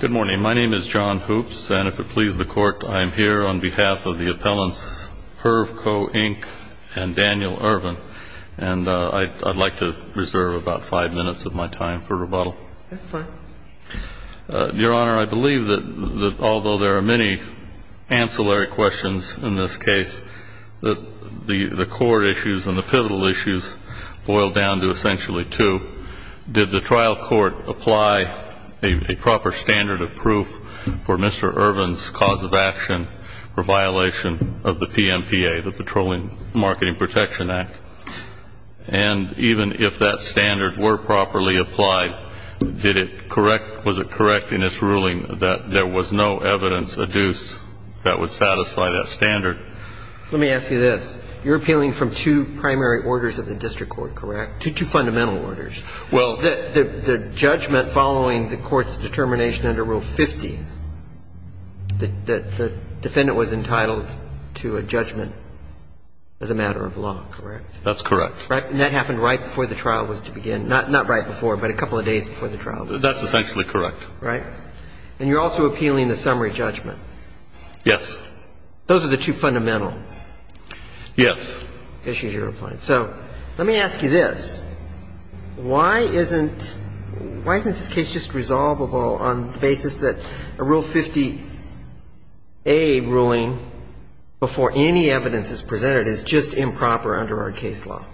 Good morning. My name is John Hoopes, and if it pleases the Court, I am here on behalf of the appellants Hervco, Inc. and Daniel Ervin, and I'd like to reserve about five minutes of my time for rebuttal. That's fine. Your Honor, I believe that although there are many ancillary questions in this case, that the core issues and the pivotal issues boil down to essentially two. Did the trial court apply a proper standard of proof for Mr. Ervin's cause of action for violation of the PMPA, the Patrolling Marketing Protection Act? And even if that standard were properly applied, did it correct, was it correct in its ruling that there was no evidence adduced that would satisfy that standard? Let me ask you this. You're appealing from two primary orders of the district court, correct? Two fundamental orders. Well... The judgment following the court's determination under Rule 50 that the defendant was entitled to a judgment as a matter of law, correct? That's correct. And that happened right before the trial was to begin. Not right before, but a couple of days before the trial. That's essentially correct. Right? And you're also appealing the summary judgment. Yes. Those are the two fundamental... Yes. ...issues you're applying. So let me ask you this. Why isn't this case just resolvable on the basis that a Rule 50a ruling before any evidence is presented is just improper under our case law?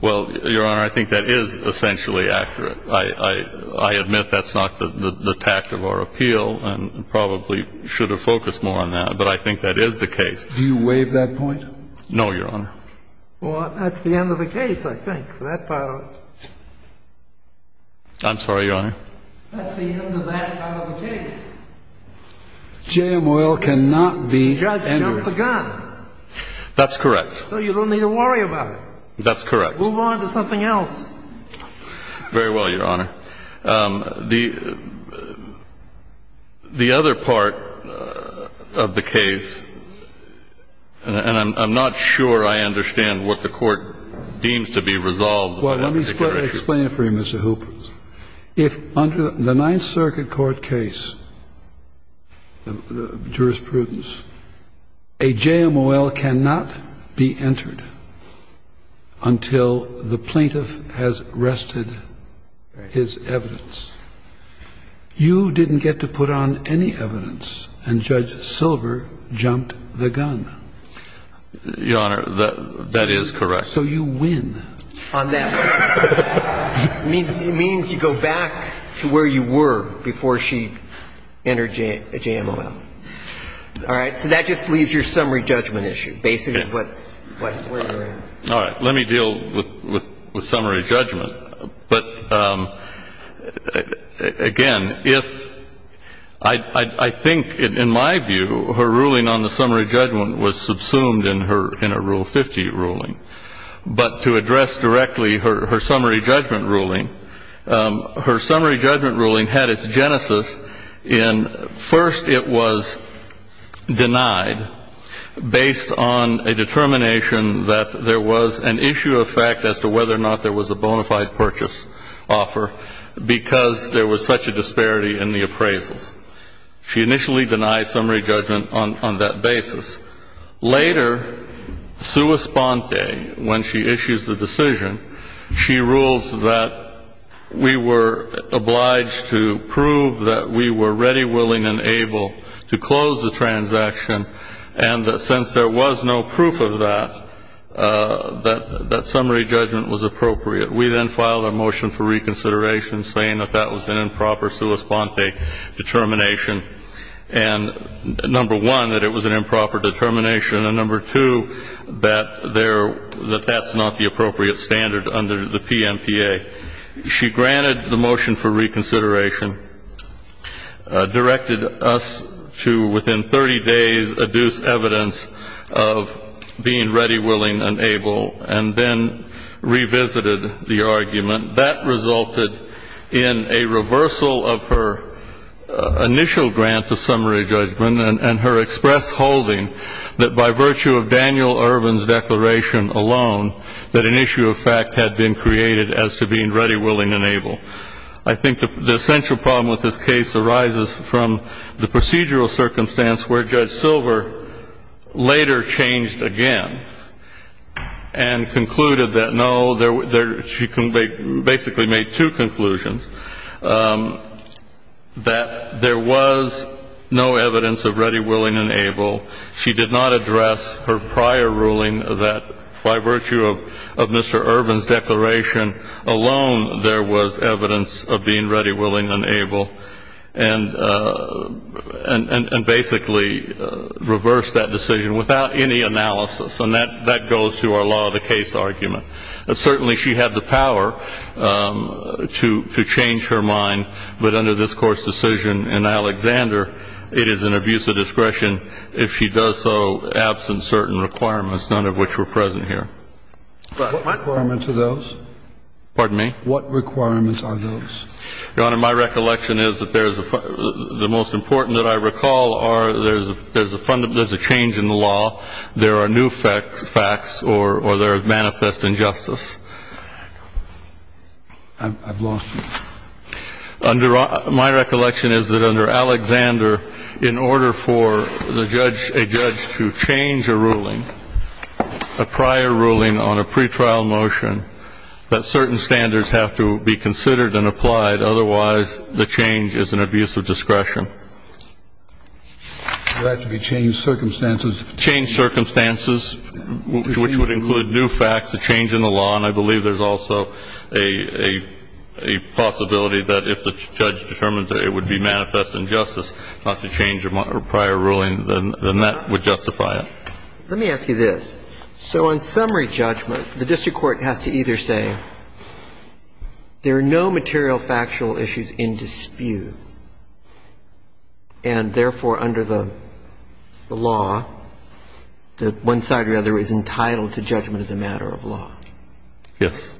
Well, Your Honor, I think that is essentially accurate. I admit that's not the tact of our appeal and probably should have focused more on that, but I think that is the case. Do you waive that point? No, Your Honor. Well, that's the end of the case, I think, for that part of it. I'm sorry, Your Honor? That's the end of that part of the case. J.M. Oyl cannot be entered... Judge, jump the gun. That's correct. So you don't need to worry about it. That's correct. Move on to something else. Very well, Your Honor. The other part of the case, and I'm not sure I understand what the Court deems to be resolved... Well, let me explain it for you, Mr. Hooper. If under the Ninth Circuit Court case, jurisprudence, a J.M. Oyl cannot be entered until the plaintiff has rested his evidence. You didn't get to put on any evidence, and Judge Silver jumped the gun. Your Honor, that is correct. So you win. On that. It means you go back to where you were before she entered a J.M. Oyl. All right? So that just leaves your summary judgment issue, basically, what you're in. All right. Let me deal with summary judgment. But, again, if... I think, in my view, her ruling on the summary judgment was subsumed in a Rule 50 ruling. But to address directly her summary judgment ruling, her summary judgment ruling had its genesis in... First, it was denied based on a determination that there was an issue of fact as to whether or not there was a bona fide purchase offer, because there was such a disparity in the appraisals. She initially denied summary judgment on that basis. Later, sua sponte, when she issues the decision, she rules that we were obliged to prove that we were ready, willing, and able to close the transaction, and that since there was no proof of that, that summary judgment was appropriate. We then filed a motion for reconsideration saying that that was an improper sua sponte determination, and, number one, that it was an improper determination, and, number two, that that's not the appropriate standard under the PNPA. She granted the motion for reconsideration, directed us to, within 30 days, adduce evidence of being ready, willing, and able, and then revisited the argument. That resulted in a reversal of her initial grant of summary judgment and her express holding that, by virtue of Daniel Irvin's declaration alone, that an issue of fact had been created as to being ready, willing, and able. I think the essential problem with this case arises from the procedural circumstance where Judge Silver later changed again and concluded that, no, she basically made two conclusions, that there was no evidence of ready, willing, and able. She did not address her prior ruling that, by virtue of Mr. Irvin's declaration alone, there was evidence of being ready, willing, and able, and basically reversed that decision without any analysis, and that goes to our law of the case argument. Certainly, she had the power to change her mind, but under this Court's decision in Alexander, it is an abuse of discretion if she does so absent certain requirements, none of which were present here. What requirements are those? Pardon me? What requirements are those? Your Honor, my recollection is that the most important that I recall are there's a change in the law, there are new facts, or there are manifest injustice. I've lost you. My recollection is that under Alexander, in order for a judge to change a ruling, a prior ruling on a pretrial motion, that certain standards have to be considered and applied, otherwise the change is an abuse of discretion. There have to be changed circumstances. There have to be changed circumstances, which would include new facts, a change in the law, and I believe there's also a possibility that if the judge determines that it would be manifest injustice not to change a prior ruling, then that would justify it. Let me ask you this. So on summary judgment, the district court has to either say there are no material factual issues in dispute, and therefore, under the law, that one side or the other is entitled to judgment as a matter of law. Yes.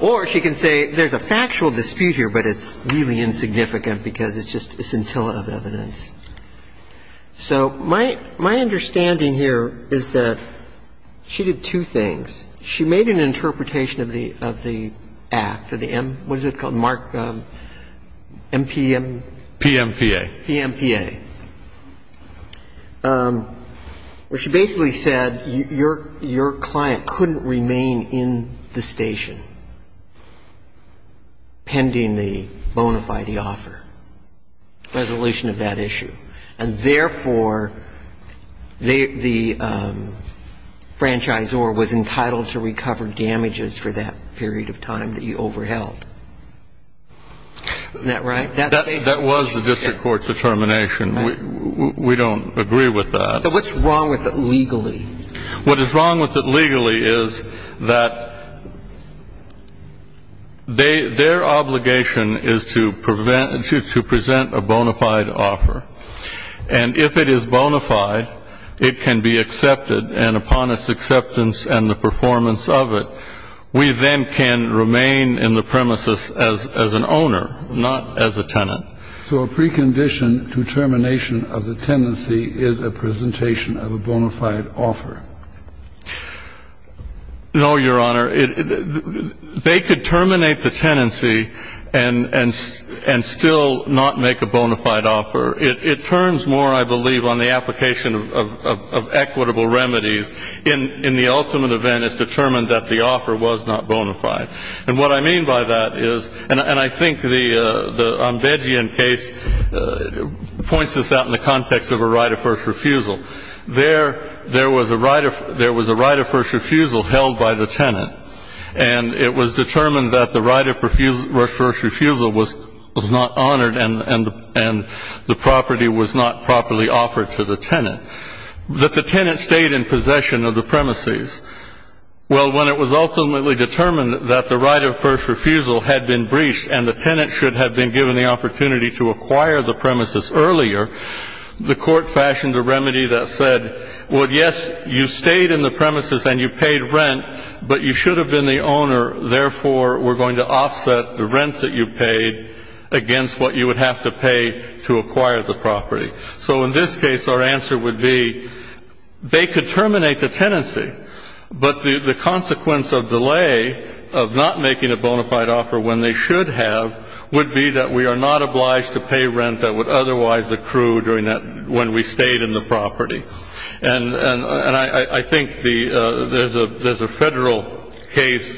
Or she can say there's a factual dispute here, but it's really insignificant because it's just a scintilla of evidence. So my understanding here is that she did two things. She made an interpretation of the act, what is it called? MPM? PMPA. PMPA. Where she basically said your client couldn't remain in the station pending the bona fide offer, resolution of that issue. And therefore, the franchisor was entitled to recover damages for that period of time that you overheld. Isn't that right? That was the district court's determination. We don't agree with that. So what's wrong with it legally? What is wrong with it legally is that their obligation is to present a bona fide offer. And if it is bona fide, it can be accepted. And upon its acceptance and the performance of it, we then can remain in the premises as an owner, not as a tenant. So a precondition to termination of the tenancy is a presentation of a bona fide offer. No, Your Honor. They could terminate the tenancy and still not make a bona fide offer. It turns more, I believe, on the application of equitable remedies. In the ultimate event, it's determined that the offer was not bona fide. And what I mean by that is, and I think the Ombedian case points this out in the context of a right of first refusal. There was a right of first refusal held by the tenant. And it was determined that the right of first refusal was not honored and the property was not properly offered to the tenant, that the tenant stayed in possession of the premises. Well, when it was ultimately determined that the right of first refusal had been breached and the tenant should have been given the opportunity to acquire the premises earlier, the court fashioned a remedy that said, well, yes, you stayed in the premises and you paid rent, but you should have been the owner. Therefore, we're going to offset the rent that you paid against what you would have to pay to acquire the property. So in this case, our answer would be they could terminate the tenancy, but the consequence of delay of not making a bona fide offer when they should have would be that we are not obliged to pay rent that would otherwise accrue during that, when we stayed in the property. And I think there's a Federal case.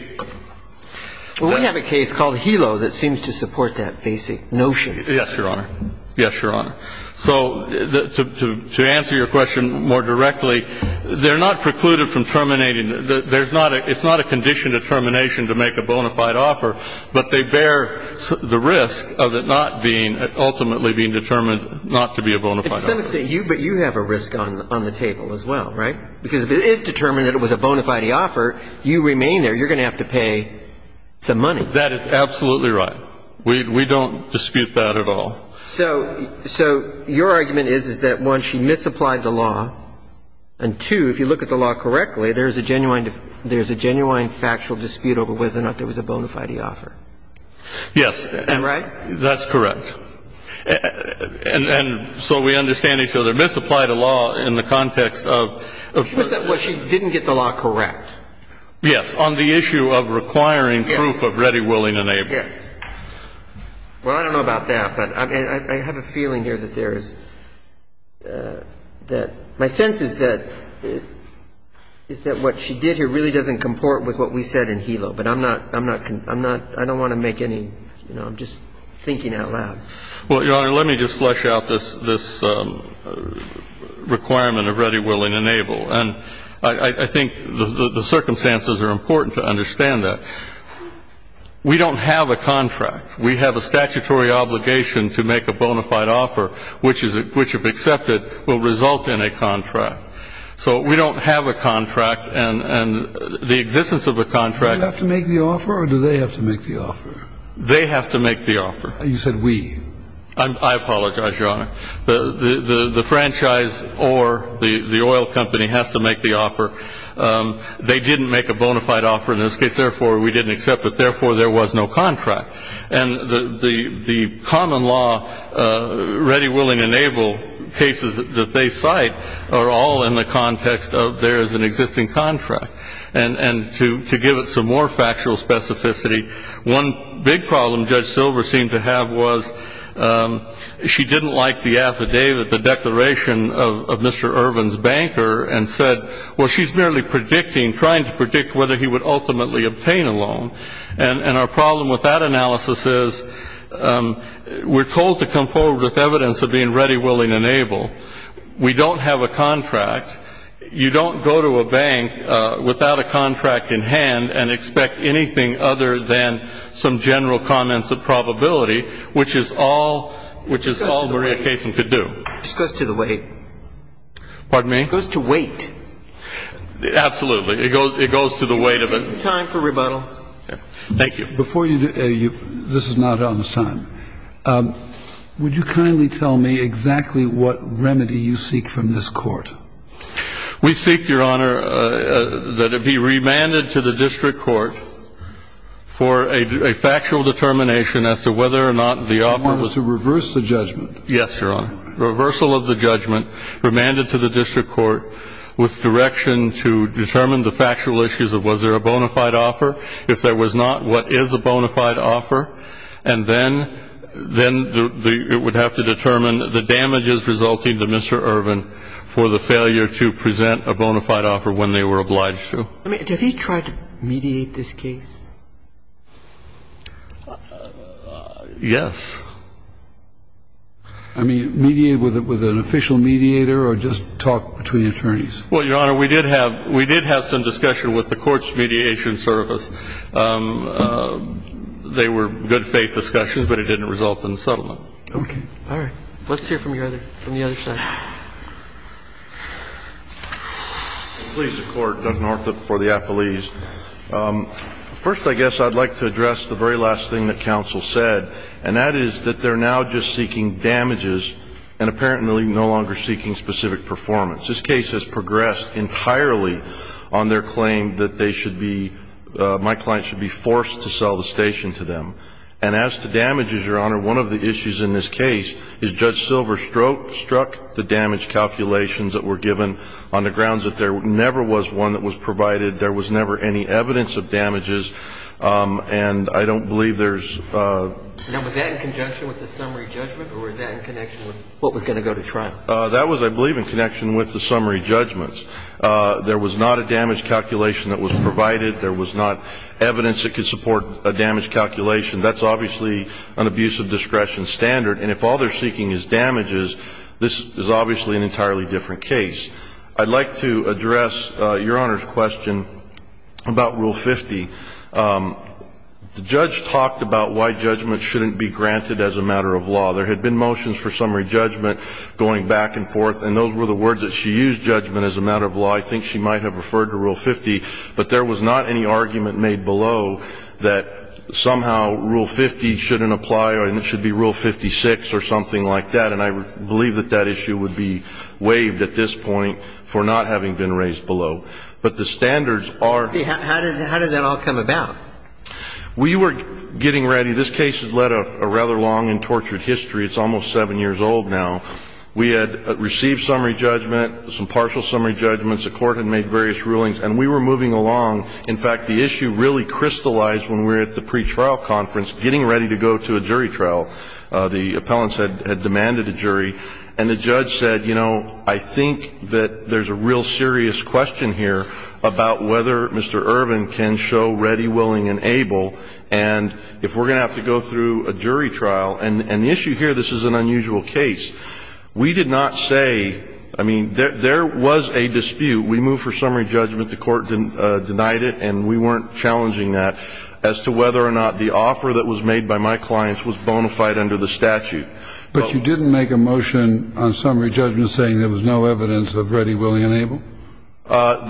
Well, we have a case called Hilo that seems to support that basic notion. Yes, Your Honor. Yes, Your Honor. So to answer your question more directly, they're not precluded from terminating. It's not a condition to termination to make a bona fide offer, but they bear the risk of it not being, ultimately being determined not to be a bona fide offer. But you have a risk on the table as well, right? Because if it is determined that it was a bona fide offer, you remain there. You're going to have to pay some money. That is absolutely right. We don't dispute that at all. So your argument is that, one, she misapplied the law, and, two, if you look at the law correctly, there's a genuine factual dispute over whether or not there was a bona fide offer. Yes. Isn't that right? That's correct. And so we understand each other. Misapplied a law in the context of the first issue. Well, she didn't get the law correct. Yes. On the issue of requiring proof of ready, willing, and able. Yes. Well, I don't know about that, but I have a feeling here that there is – that my sense is that what she did here really doesn't comport with what we said in Hilo. But I'm not – I don't want to make any – you know, I'm just thinking out loud. Well, Your Honor, let me just flesh out this requirement of ready, willing, and able. And I think the circumstances are important to understand that. We don't have a contract. We have a statutory obligation to make a bona fide offer, which, if accepted, will result in a contract. So we don't have a contract, and the existence of a contract – Do you have to make the offer, or do they have to make the offer? They have to make the offer. You said we. I apologize, Your Honor. The franchise or the oil company has to make the offer. They didn't make a bona fide offer in this case, therefore we didn't accept it. Therefore, there was no contract. And the common law ready, willing, and able cases that they cite are all in the context of there is an existing contract. And to give it some more factual specificity, one big problem Judge Silver seemed to have was she didn't like the affidavit, the declaration of Mr. Irvin's banker, and said, well, she's merely predicting, trying to predict whether he would ultimately obtain a loan. And our problem with that analysis is we're told to come forward with evidence of being ready, willing, and able. We don't have a contract. You don't go to a bank without a contract in hand and expect anything other than some general comments of probability, which is all Maria Kaysen could do. It just goes to the weight. Pardon me? It goes to weight. Absolutely. It goes to the weight of it. Time for rebuttal. Thank you. Before you do, this is not on the time. Would you kindly tell me exactly what remedy you seek from this Court? We seek, Your Honor, that it be remanded to the District Court for a factual determination as to whether or not the offer was You want us to reverse the judgment? Yes, Your Honor. Reversal of the judgment, remanded to the District Court with direction to determine the factual issues of was there a bona fide offer? If there was not, what is a bona fide offer? And then it would have to determine the damages resulting to Mr. Irvin for the failure to present a bona fide offer when they were obliged to. I mean, did he try to mediate this case? Yes. I mean, mediate with an official mediator or just talk between attorneys? Well, Your Honor, we did have some discussion with the court's mediation service. They were good faith discussions, but it didn't result in a settlement. Okay. All right. Let's hear from the other side. Please, the Court. It doesn't hurt for the appellees. First, I guess, I'd like to address the very last thing that counsel said, and that is that they're now just seeking damages and apparently no longer seeking specific performance. This case has progressed entirely on their claim that my client should be forced to sell the station to them. And as to damages, Your Honor, one of the issues in this case is Judge Silver struck the damage calculations that were given on the grounds that there never was one that was provided, there was never any evidence of damages, and I don't believe there's... Now, was that in conjunction with the summary judgment, or was that in connection with what was going to go to trial? That was, I believe, in connection with the summary judgments. There was not a damage calculation that was provided. There was not evidence that could support a damage calculation. That's obviously an abuse of discretion standard. And if all they're seeking is damages, this is obviously an entirely different case. I'd like to address Your Honor's question about Rule 50. The judge talked about why judgment shouldn't be granted as a matter of law. There had been motions for summary judgment going back and forth, and those were the words that she used, judgment as a matter of law. I think she might have referred to Rule 50. But there was not any argument made below that somehow Rule 50 shouldn't apply and it should be Rule 56 or something like that. And I believe that that issue would be waived at this point for not having been raised below. But the standards are... See, how did that all come about? We were getting ready. This case has led a rather long and tortured history. It's almost seven years old now. We had received summary judgment, some partial summary judgments. The Court had made various rulings. And we were moving along. In fact, the issue really crystallized when we were at the pretrial conference getting ready to go to a jury trial. The appellants had demanded a jury. And the judge said, you know, I think that there's a real serious question here about whether Mr. Irvin can show ready, willing, and able. And if we're going to have to go through a jury trial. And the issue here, this is an unusual case. We did not say... I mean, there was a dispute. We moved for summary judgment. The Court denied it. And we weren't challenging that as to whether or not the offer that was made by my clients was bona fide under the statute. But you didn't make a motion on summary judgment saying there was no evidence of ready, willing, and able?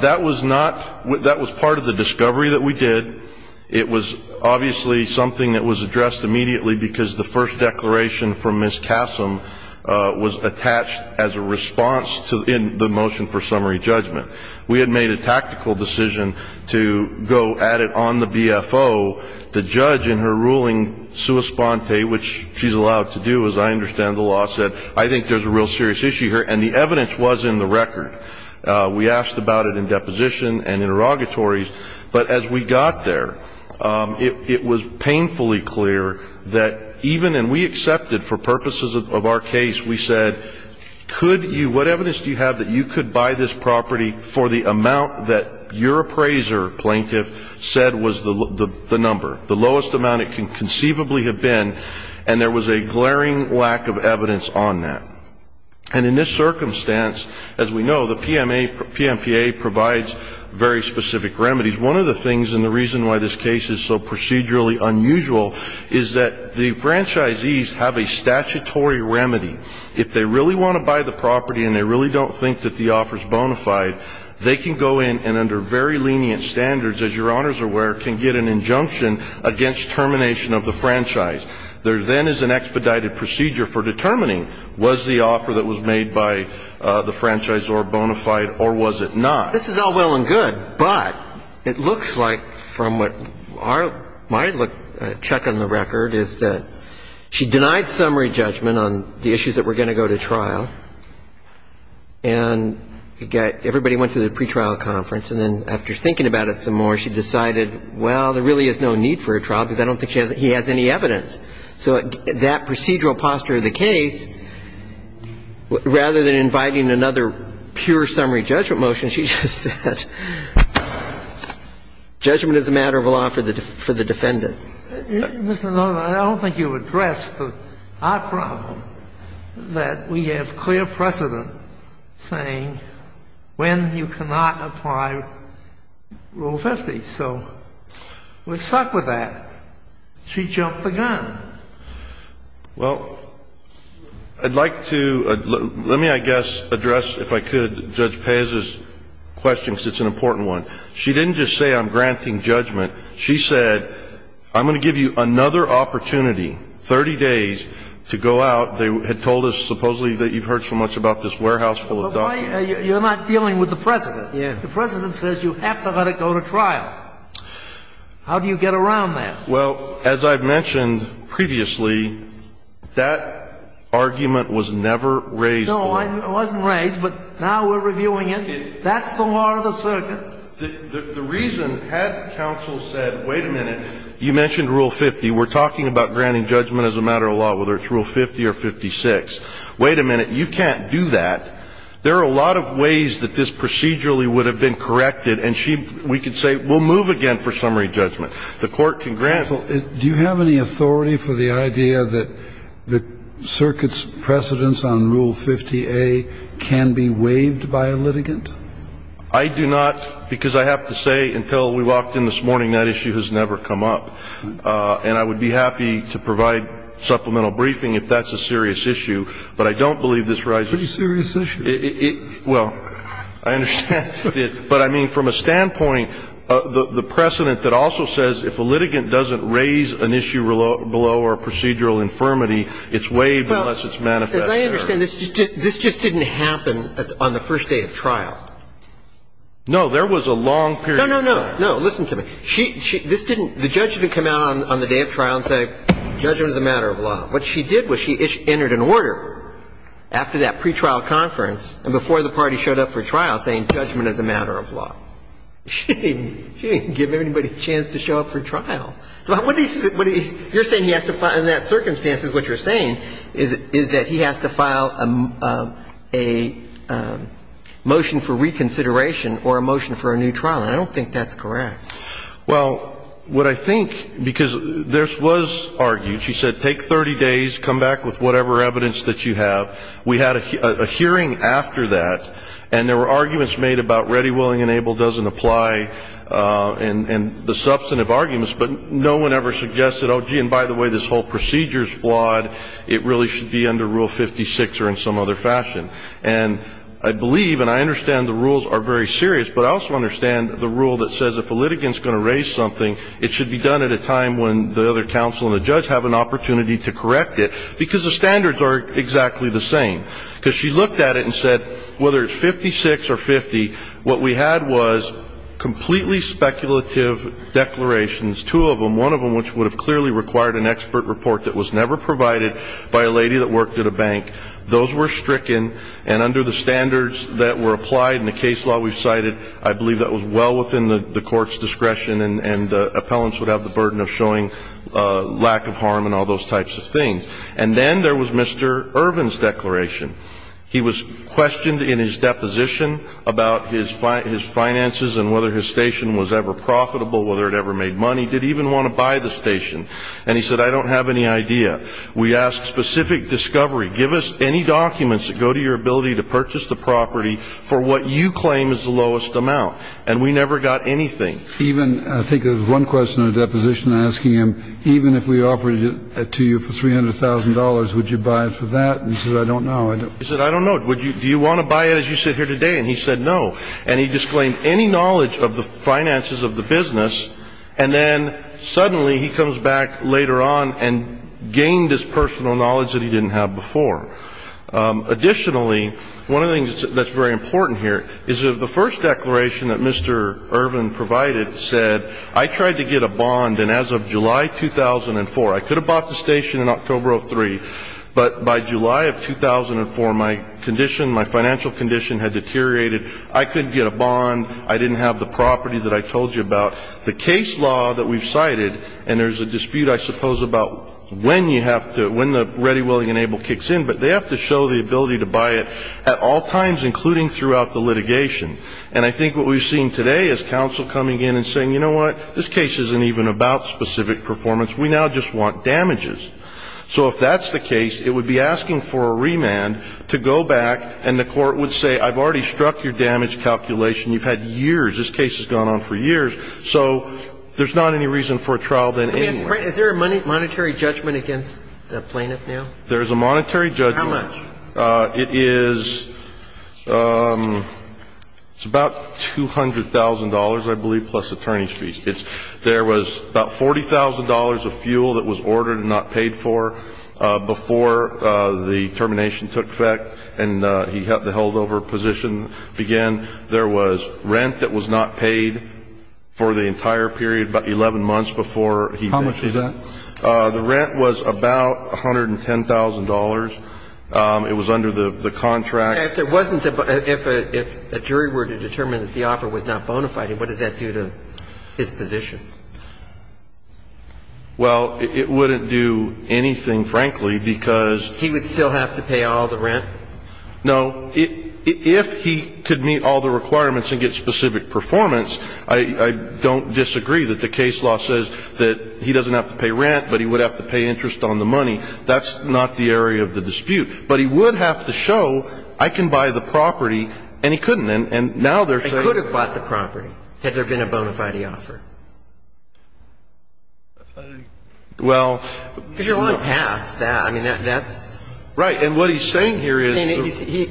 That was not... That was part of the discovery that we did. It was obviously something that was addressed immediately because the first declaration from Ms. Kassem was attached as a response in the motion for summary judgment. We had made a tactical decision to go at it on the BFO. The judge in her ruling, sua sponte, which she's allowed to do, as I understand the law, said, I think there's a real serious issue here. And the evidence was in the record. We asked about it in deposition and interrogatories. But as we got there, it was painfully clear that even... And we accepted, for purposes of our case, we said, could you... What evidence do you have that you could buy this property for the amount that your appraiser, plaintiff, said was the number? The lowest amount it can conceivably have been. And there was a glaring lack of evidence on that. And in this circumstance, as we know, the PMPA provides very specific remedies. One of the things, and the reason why this case is so procedurally unusual, is that the franchisees have a statutory remedy. If they really want to buy the property and they really don't think that the offer's bona fide, they can go in and, under very lenient standards, as Your Honors are aware, can get an injunction against termination of the franchise. There then is an expedited procedure for determining was the offer that was made by the franchisor bona fide or was it not. This is all well and good, but it looks like, from what our... My check on the record is that she denied summary judgment on the issues that were going to go to trial. And everybody went to the pretrial conference. And then after thinking about it some more, she decided, well, there really is no need for a trial because I don't think he has any evidence. So that procedural posture of the case, rather than inviting another pure summary judgment motion, she just said, judgment is a matter of law for the defendant. Mr. Nolan, I don't think you addressed our problem, that we have clear precedent saying when you cannot apply Rule 50. So we're stuck with that. She jumped the gun. Well, I'd like to, let me, I guess, address, if I could, Judge Pez's question, because it's an important one. She didn't just say I'm granting judgment. She said, I'm going to give you another opportunity, 30 days, to go out. They had told us, supposedly, that you've heard so much about this warehouse full of documents. You're not dealing with the President. The President says you have to let it go to trial. How do you get around that? Well, as I've mentioned previously, that argument was never raised. No, it wasn't raised, but now we're reviewing it. That's the law of the circuit. The reason, had counsel said, wait a minute, you mentioned Rule 50, we're talking about granting judgment as a matter of law, whether it's Rule 50 or 56. Wait a minute, you can't do that. There are a lot of ways that this procedurally would have been corrected, and she, we could say, we'll move again for summary judgment. The Court can grant. Do you have any authority for the idea that the circuit's precedents on Rule 50A can be waived by a litigant? I do not, because I have to say, until we walked in this morning, that issue has never come up. And I would be happy to provide supplemental briefing if that's a serious issue, but I don't believe this rises. Pretty serious issue. Well, I understand. But, I mean, from a standpoint, the precedent that also says if a litigant doesn't raise an issue below or procedural infirmity, it's waived unless it's manifested. As I understand, this just didn't happen on the first day of trial. No, there was a long period of time. No, no, no. No, listen to me. She, this didn't, the judge didn't come out on the day of trial and say, judgment is a matter of law. What she did was she entered an order after that pretrial conference and before the party showed up for trial saying, judgment is a matter of law. She didn't give anybody a chance to show up for trial. So what he's, you're saying he has to, in that circumstances, what you're saying is that he has to file a motion for reconsideration or a motion for a new trial. And I don't think that's correct. Well, what I think, because this was argued, she said, take 30 days, come back with whatever evidence that you have. We had a hearing after that, and there were arguments made about ready, willing, and able doesn't apply and the substantive arguments. But no one ever suggested, oh, gee, and by the way, this whole procedure is flawed. It really should be under Rule 56 or in some other fashion. And I believe and I understand the rules are very serious, but I also understand the rule that says if a litigant's going to raise something, it should be done at a time when the other counsel and the judge have an opportunity to correct it, because the standards are exactly the same. Because she looked at it and said, whether it's 56 or 50, what we had was completely speculative declarations, two of them. One of them which would have clearly required an expert report that was never provided by a lady that worked at a bank. Those were stricken, and under the standards that were applied in the case law we've cited, I believe that was well within the court's discretion and appellants would have the burden of showing lack of harm and all those types of things. And then there was Mr. Irvin's declaration. He was questioned in his deposition about his finances and whether his station was ever profitable, whether it ever made money, did he even want to buy the station. And he said, I don't have any idea. We asked specific discovery. Give us any documents that go to your ability to purchase the property for what you claim is the lowest amount. And we never got anything. I think there was one question in the deposition asking him, even if we offered it to you for $300,000, would you buy it for that? And he said, I don't know. He said, I don't know. Do you want to buy it as you sit here today? And he said, no. And he disclaimed any knowledge of the finances of the business. And then suddenly he comes back later on and gained his personal knowledge that he didn't have before. Additionally, one of the things that's very important here is that the first declaration that Mr. Irvin provided said, I tried to get a bond. And as of July 2004, I could have bought the station in October of 2003. But by July of 2004, my condition, my financial condition had deteriorated. I couldn't get a bond. I didn't have the property that I told you about. The case law that we've cited, and there's a dispute, I suppose, about when you have to, when the ready, willing, and able kicks in. But they have to show the ability to buy it at all times, including throughout the litigation. And I think what we've seen today is counsel coming in and saying, you know what, this case isn't even about specific performance. We now just want damages. So if that's the case, it would be asking for a remand to go back and the court would say, I've already struck your damage calculation. You've had years. This case has gone on for years. So there's not any reason for a trial then anyway. Is there a monetary judgment against the plaintiff now? There is a monetary judgment. How much? It is about $200,000, I believe, plus attorney's fees. There was about $40,000 of fuel that was ordered and not paid for before the termination took effect and the heldover position began. There was rent that was not paid for the entire period, about 11 months before he did. How much was that? The rent was about $110,000. It was under the contract. If a jury were to determine that the offer was not bona fide, what does that do to his position? Well, it wouldn't do anything, frankly, because... He would still have to pay all the rent? No. If he could meet all the requirements and get specific performance, I don't disagree that the case law says that he doesn't have to pay rent, but he would have to pay interest on the money. That's not the area of the dispute. But he would have to show, I can buy the property, and he couldn't. And now they're saying... He could have bought the property had there been a bona fide offer. Well... Because you're going past that. I mean, that's... Right, and what he's saying here is...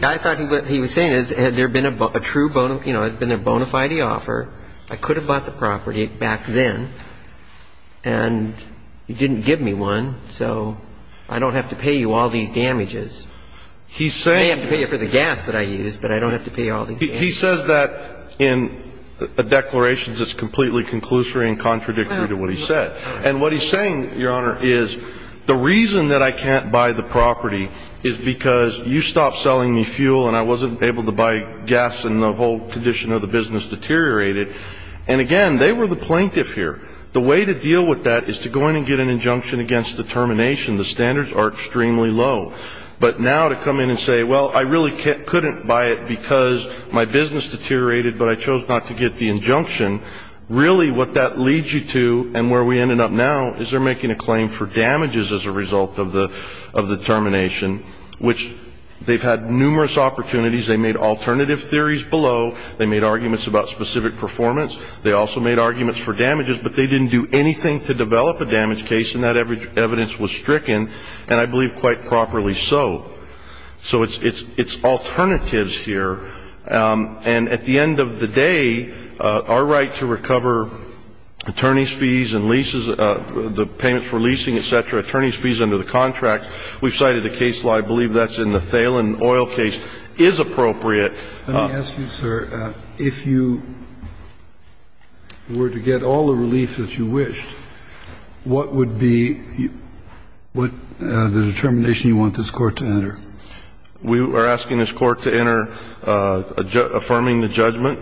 I thought what he was saying is, had there been a true bona fide offer, I could have bought the property back then, and he didn't give me one, so I don't have to pay you all these damages. He's saying... I may have to pay you for the gas that I used, but I don't have to pay you all these damages. He says that in the declarations it's completely conclusory and contradictory to what he said. And what he's saying, Your Honor, is... The reason that I can't buy the property is because you stopped selling me fuel, and I wasn't able to buy gas, and the whole condition of the business deteriorated. And again, they were the plaintiff here. The way to deal with that is to go in and get an injunction against the termination. The standards are extremely low. But now to come in and say, well, I really couldn't buy it because my business deteriorated, but I chose not to get the injunction, really what that leads you to, and where we ended up now, is they're making a claim for damages as a result of the termination, which they've had numerous opportunities. They made alternative theories below. They made arguments about specific performance. They also made arguments for damages, but they didn't do anything to develop a damage case, and that evidence was stricken, and I believe quite properly so. So it's alternatives here. And at the end of the day, our right to recover attorney's fees and leases, the payments for leasing, et cetera, attorney's fees under the contract, we've cited a case law, I believe that's in the Thalen Oil case, is appropriate. Let me ask you, sir, if you were to get all the relief that you wished, what would be the determination you want this Court to enter? We are asking this Court to enter affirming the judgment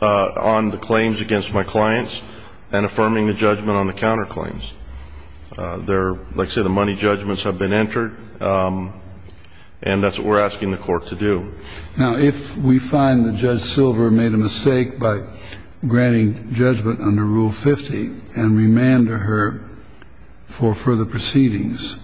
on the claims against my clients and affirming the judgment on the counterclaims. Like I said, the money judgments have been entered, and that's what we're asking the Court to do. Now, if we find that Judge Silver made a mistake by granting judgment under Rule 50 and remanded her for further proceedings,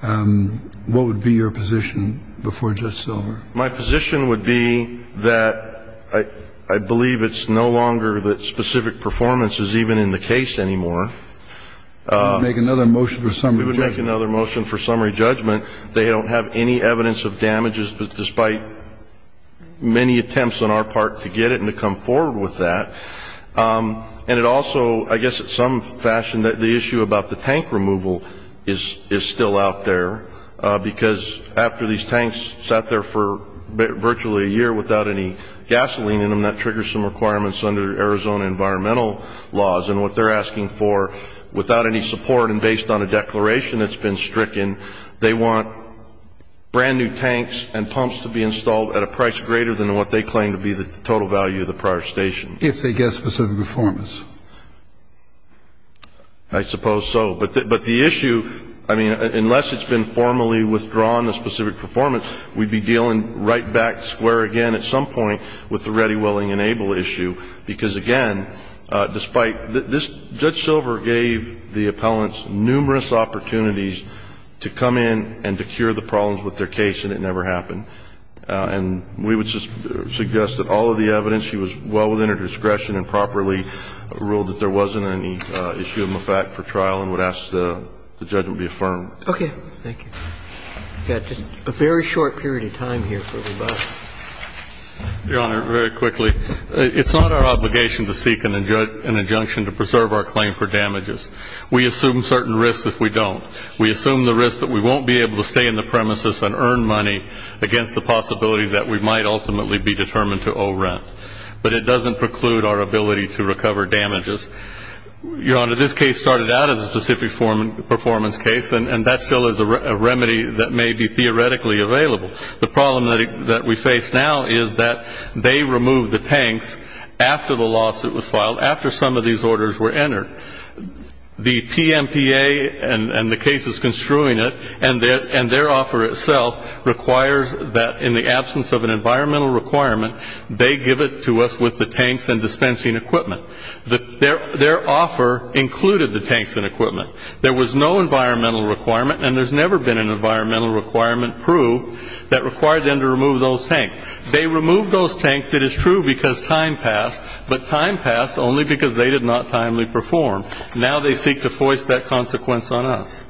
what would be your position before Judge Silver? My position would be that I believe it's no longer that specific performance is even in the case anymore. We would make another motion for summary judgment. We would make another motion for summary judgment. They don't have any evidence of damages, but despite many attempts on our part to get it to come forward with that, and it also, I guess in some fashion, the issue about the tank removal is still out there, because after these tanks sat there for virtually a year without any gasoline in them, that triggers some requirements under Arizona environmental laws. And what they're asking for, without any support and based on a declaration that's been stricken, they want brand new tanks and pumps to be installed at a price greater than what they claim to be, the total value of the prior station. If they get specific performance? I suppose so. But the issue, I mean, unless it's been formally withdrawn, the specific performance, we'd be dealing right back square again at some point with the ready, willing, and able issue, because again, despite this, Judge Silver gave the appellants numerous opportunities to come in and to cure the problems with their case, and it never happened. And we would suggest that all of the evidence, she was well within her discretion and properly ruled that there wasn't any issue of the fact for trial and would ask the judgment be affirmed. Okay. Thank you. We've got just a very short period of time here for rebuttal. Your Honor, very quickly. It's not our obligation to seek an injunction to preserve our claim for damages. We assume certain risks if we don't. We assume the risks that we won't be able to stay in the premises and earn money against the possibility that we might ultimately be determined to owe rent. But it doesn't preclude our ability to recover damages. Your Honor, this case started out as a specific performance case, and that still is a remedy that may be theoretically available. The problem that we face now is that they removed the tanks after the lawsuit was filed, after some of these orders were entered. The PMPA and the case is construing it, and their offer itself requires that in the absence of an environmental requirement, they give it to us with the tanks and dispensing equipment. Their offer included the tanks and equipment. There was no environmental requirement, and there's never been an environmental requirement proved that required them to remove those tanks. They removed those tanks, it is true, because time passed. But time passed only because they did not timely perform. Now they seek to force that consequence on us.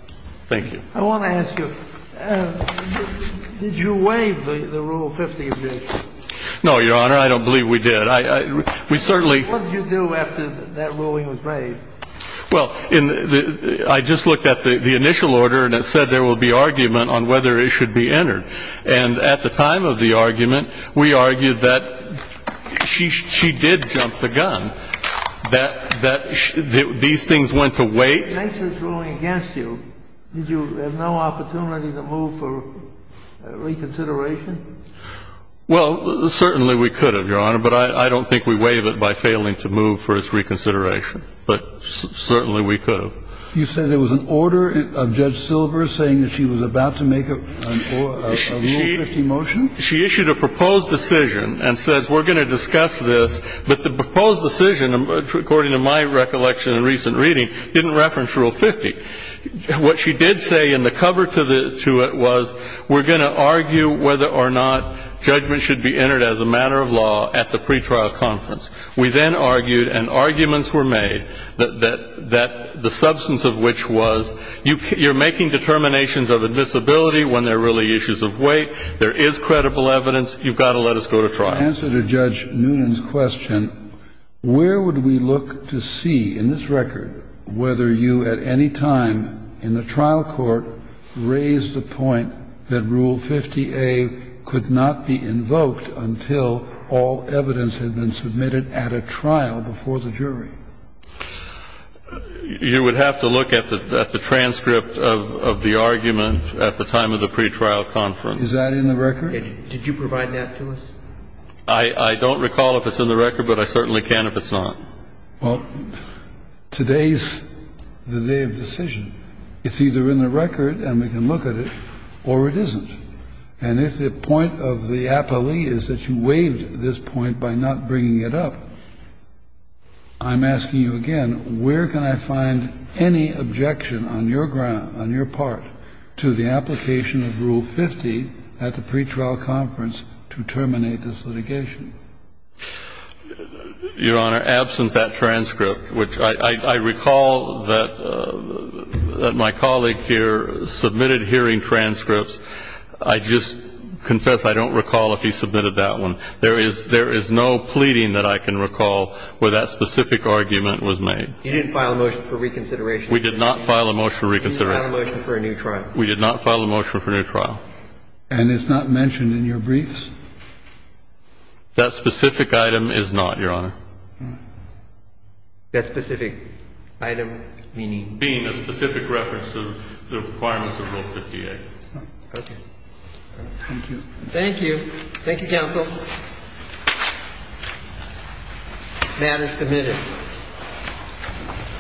Thank you. I want to ask you, did you waive the Rule 50 objection? No, Your Honor, I don't believe we did. We certainly... What did you do after that ruling was waived? Well, I just looked at the initial order, and it said there will be argument on whether it should be entered. And at the time of the argument, we argued that she did jump the gun, that these things went to wait. Since it's ruling against you, did you have no opportunity to move for reconsideration? Well, certainly we could have, Your Honor. But I don't think we waived it by failing to move for its reconsideration. But certainly we could have. You said there was an order of Judge Silver saying that she was about to make a Rule 50 motion? She issued a proposed decision and said, we're going to discuss this. But the proposed decision, according to my recollection in recent reading, didn't reference Rule 50. What she did say in the cover to it was, we're going to argue whether or not judgment should be entered as a matter of law at the pretrial conference. We then argued, and arguments were made, that the substance of which was, you're making determinations of admissibility when there are really issues of weight, there is credible evidence, you've got to let us go to trial. In answer to Judge Noonan's question, where would we look to see in this record whether you at any time in the trial court raised the point that Rule 50A could not be invoked until all evidence had been submitted at a trial before the jury? You would have to look at the transcript of the argument at the time of the pretrial conference. Is that in the record? Did you provide that to us? I don't recall if it's in the record, but I certainly can if it's not. Well, today's the day of decision. It's either in the record, and we can look at it, or it isn't. And if the point of the appellee is that you waived this point by not bringing it up, I'm asking you again, where can I find any objection on your ground, on your part, to the application of Rule 50 at the pretrial conference to terminate this litigation? Your Honor, absent that transcript, which I recall that my colleague here submitted hearing transcripts, I just confess I don't recall if he submitted that one. There is no pleading that I can recall where that specific argument was made. You didn't file a motion for reconsideration? We did not file a motion for reconsideration. You didn't file a motion for a new trial? We did not file a motion for a new trial. And it's not mentioned in your briefs? That specific item is not, Your Honor. That specific item meaning? Being a specific reference to the requirements of Rule 58. Okay. Thank you. Thank you. Thank you, counsel. Matter submitted.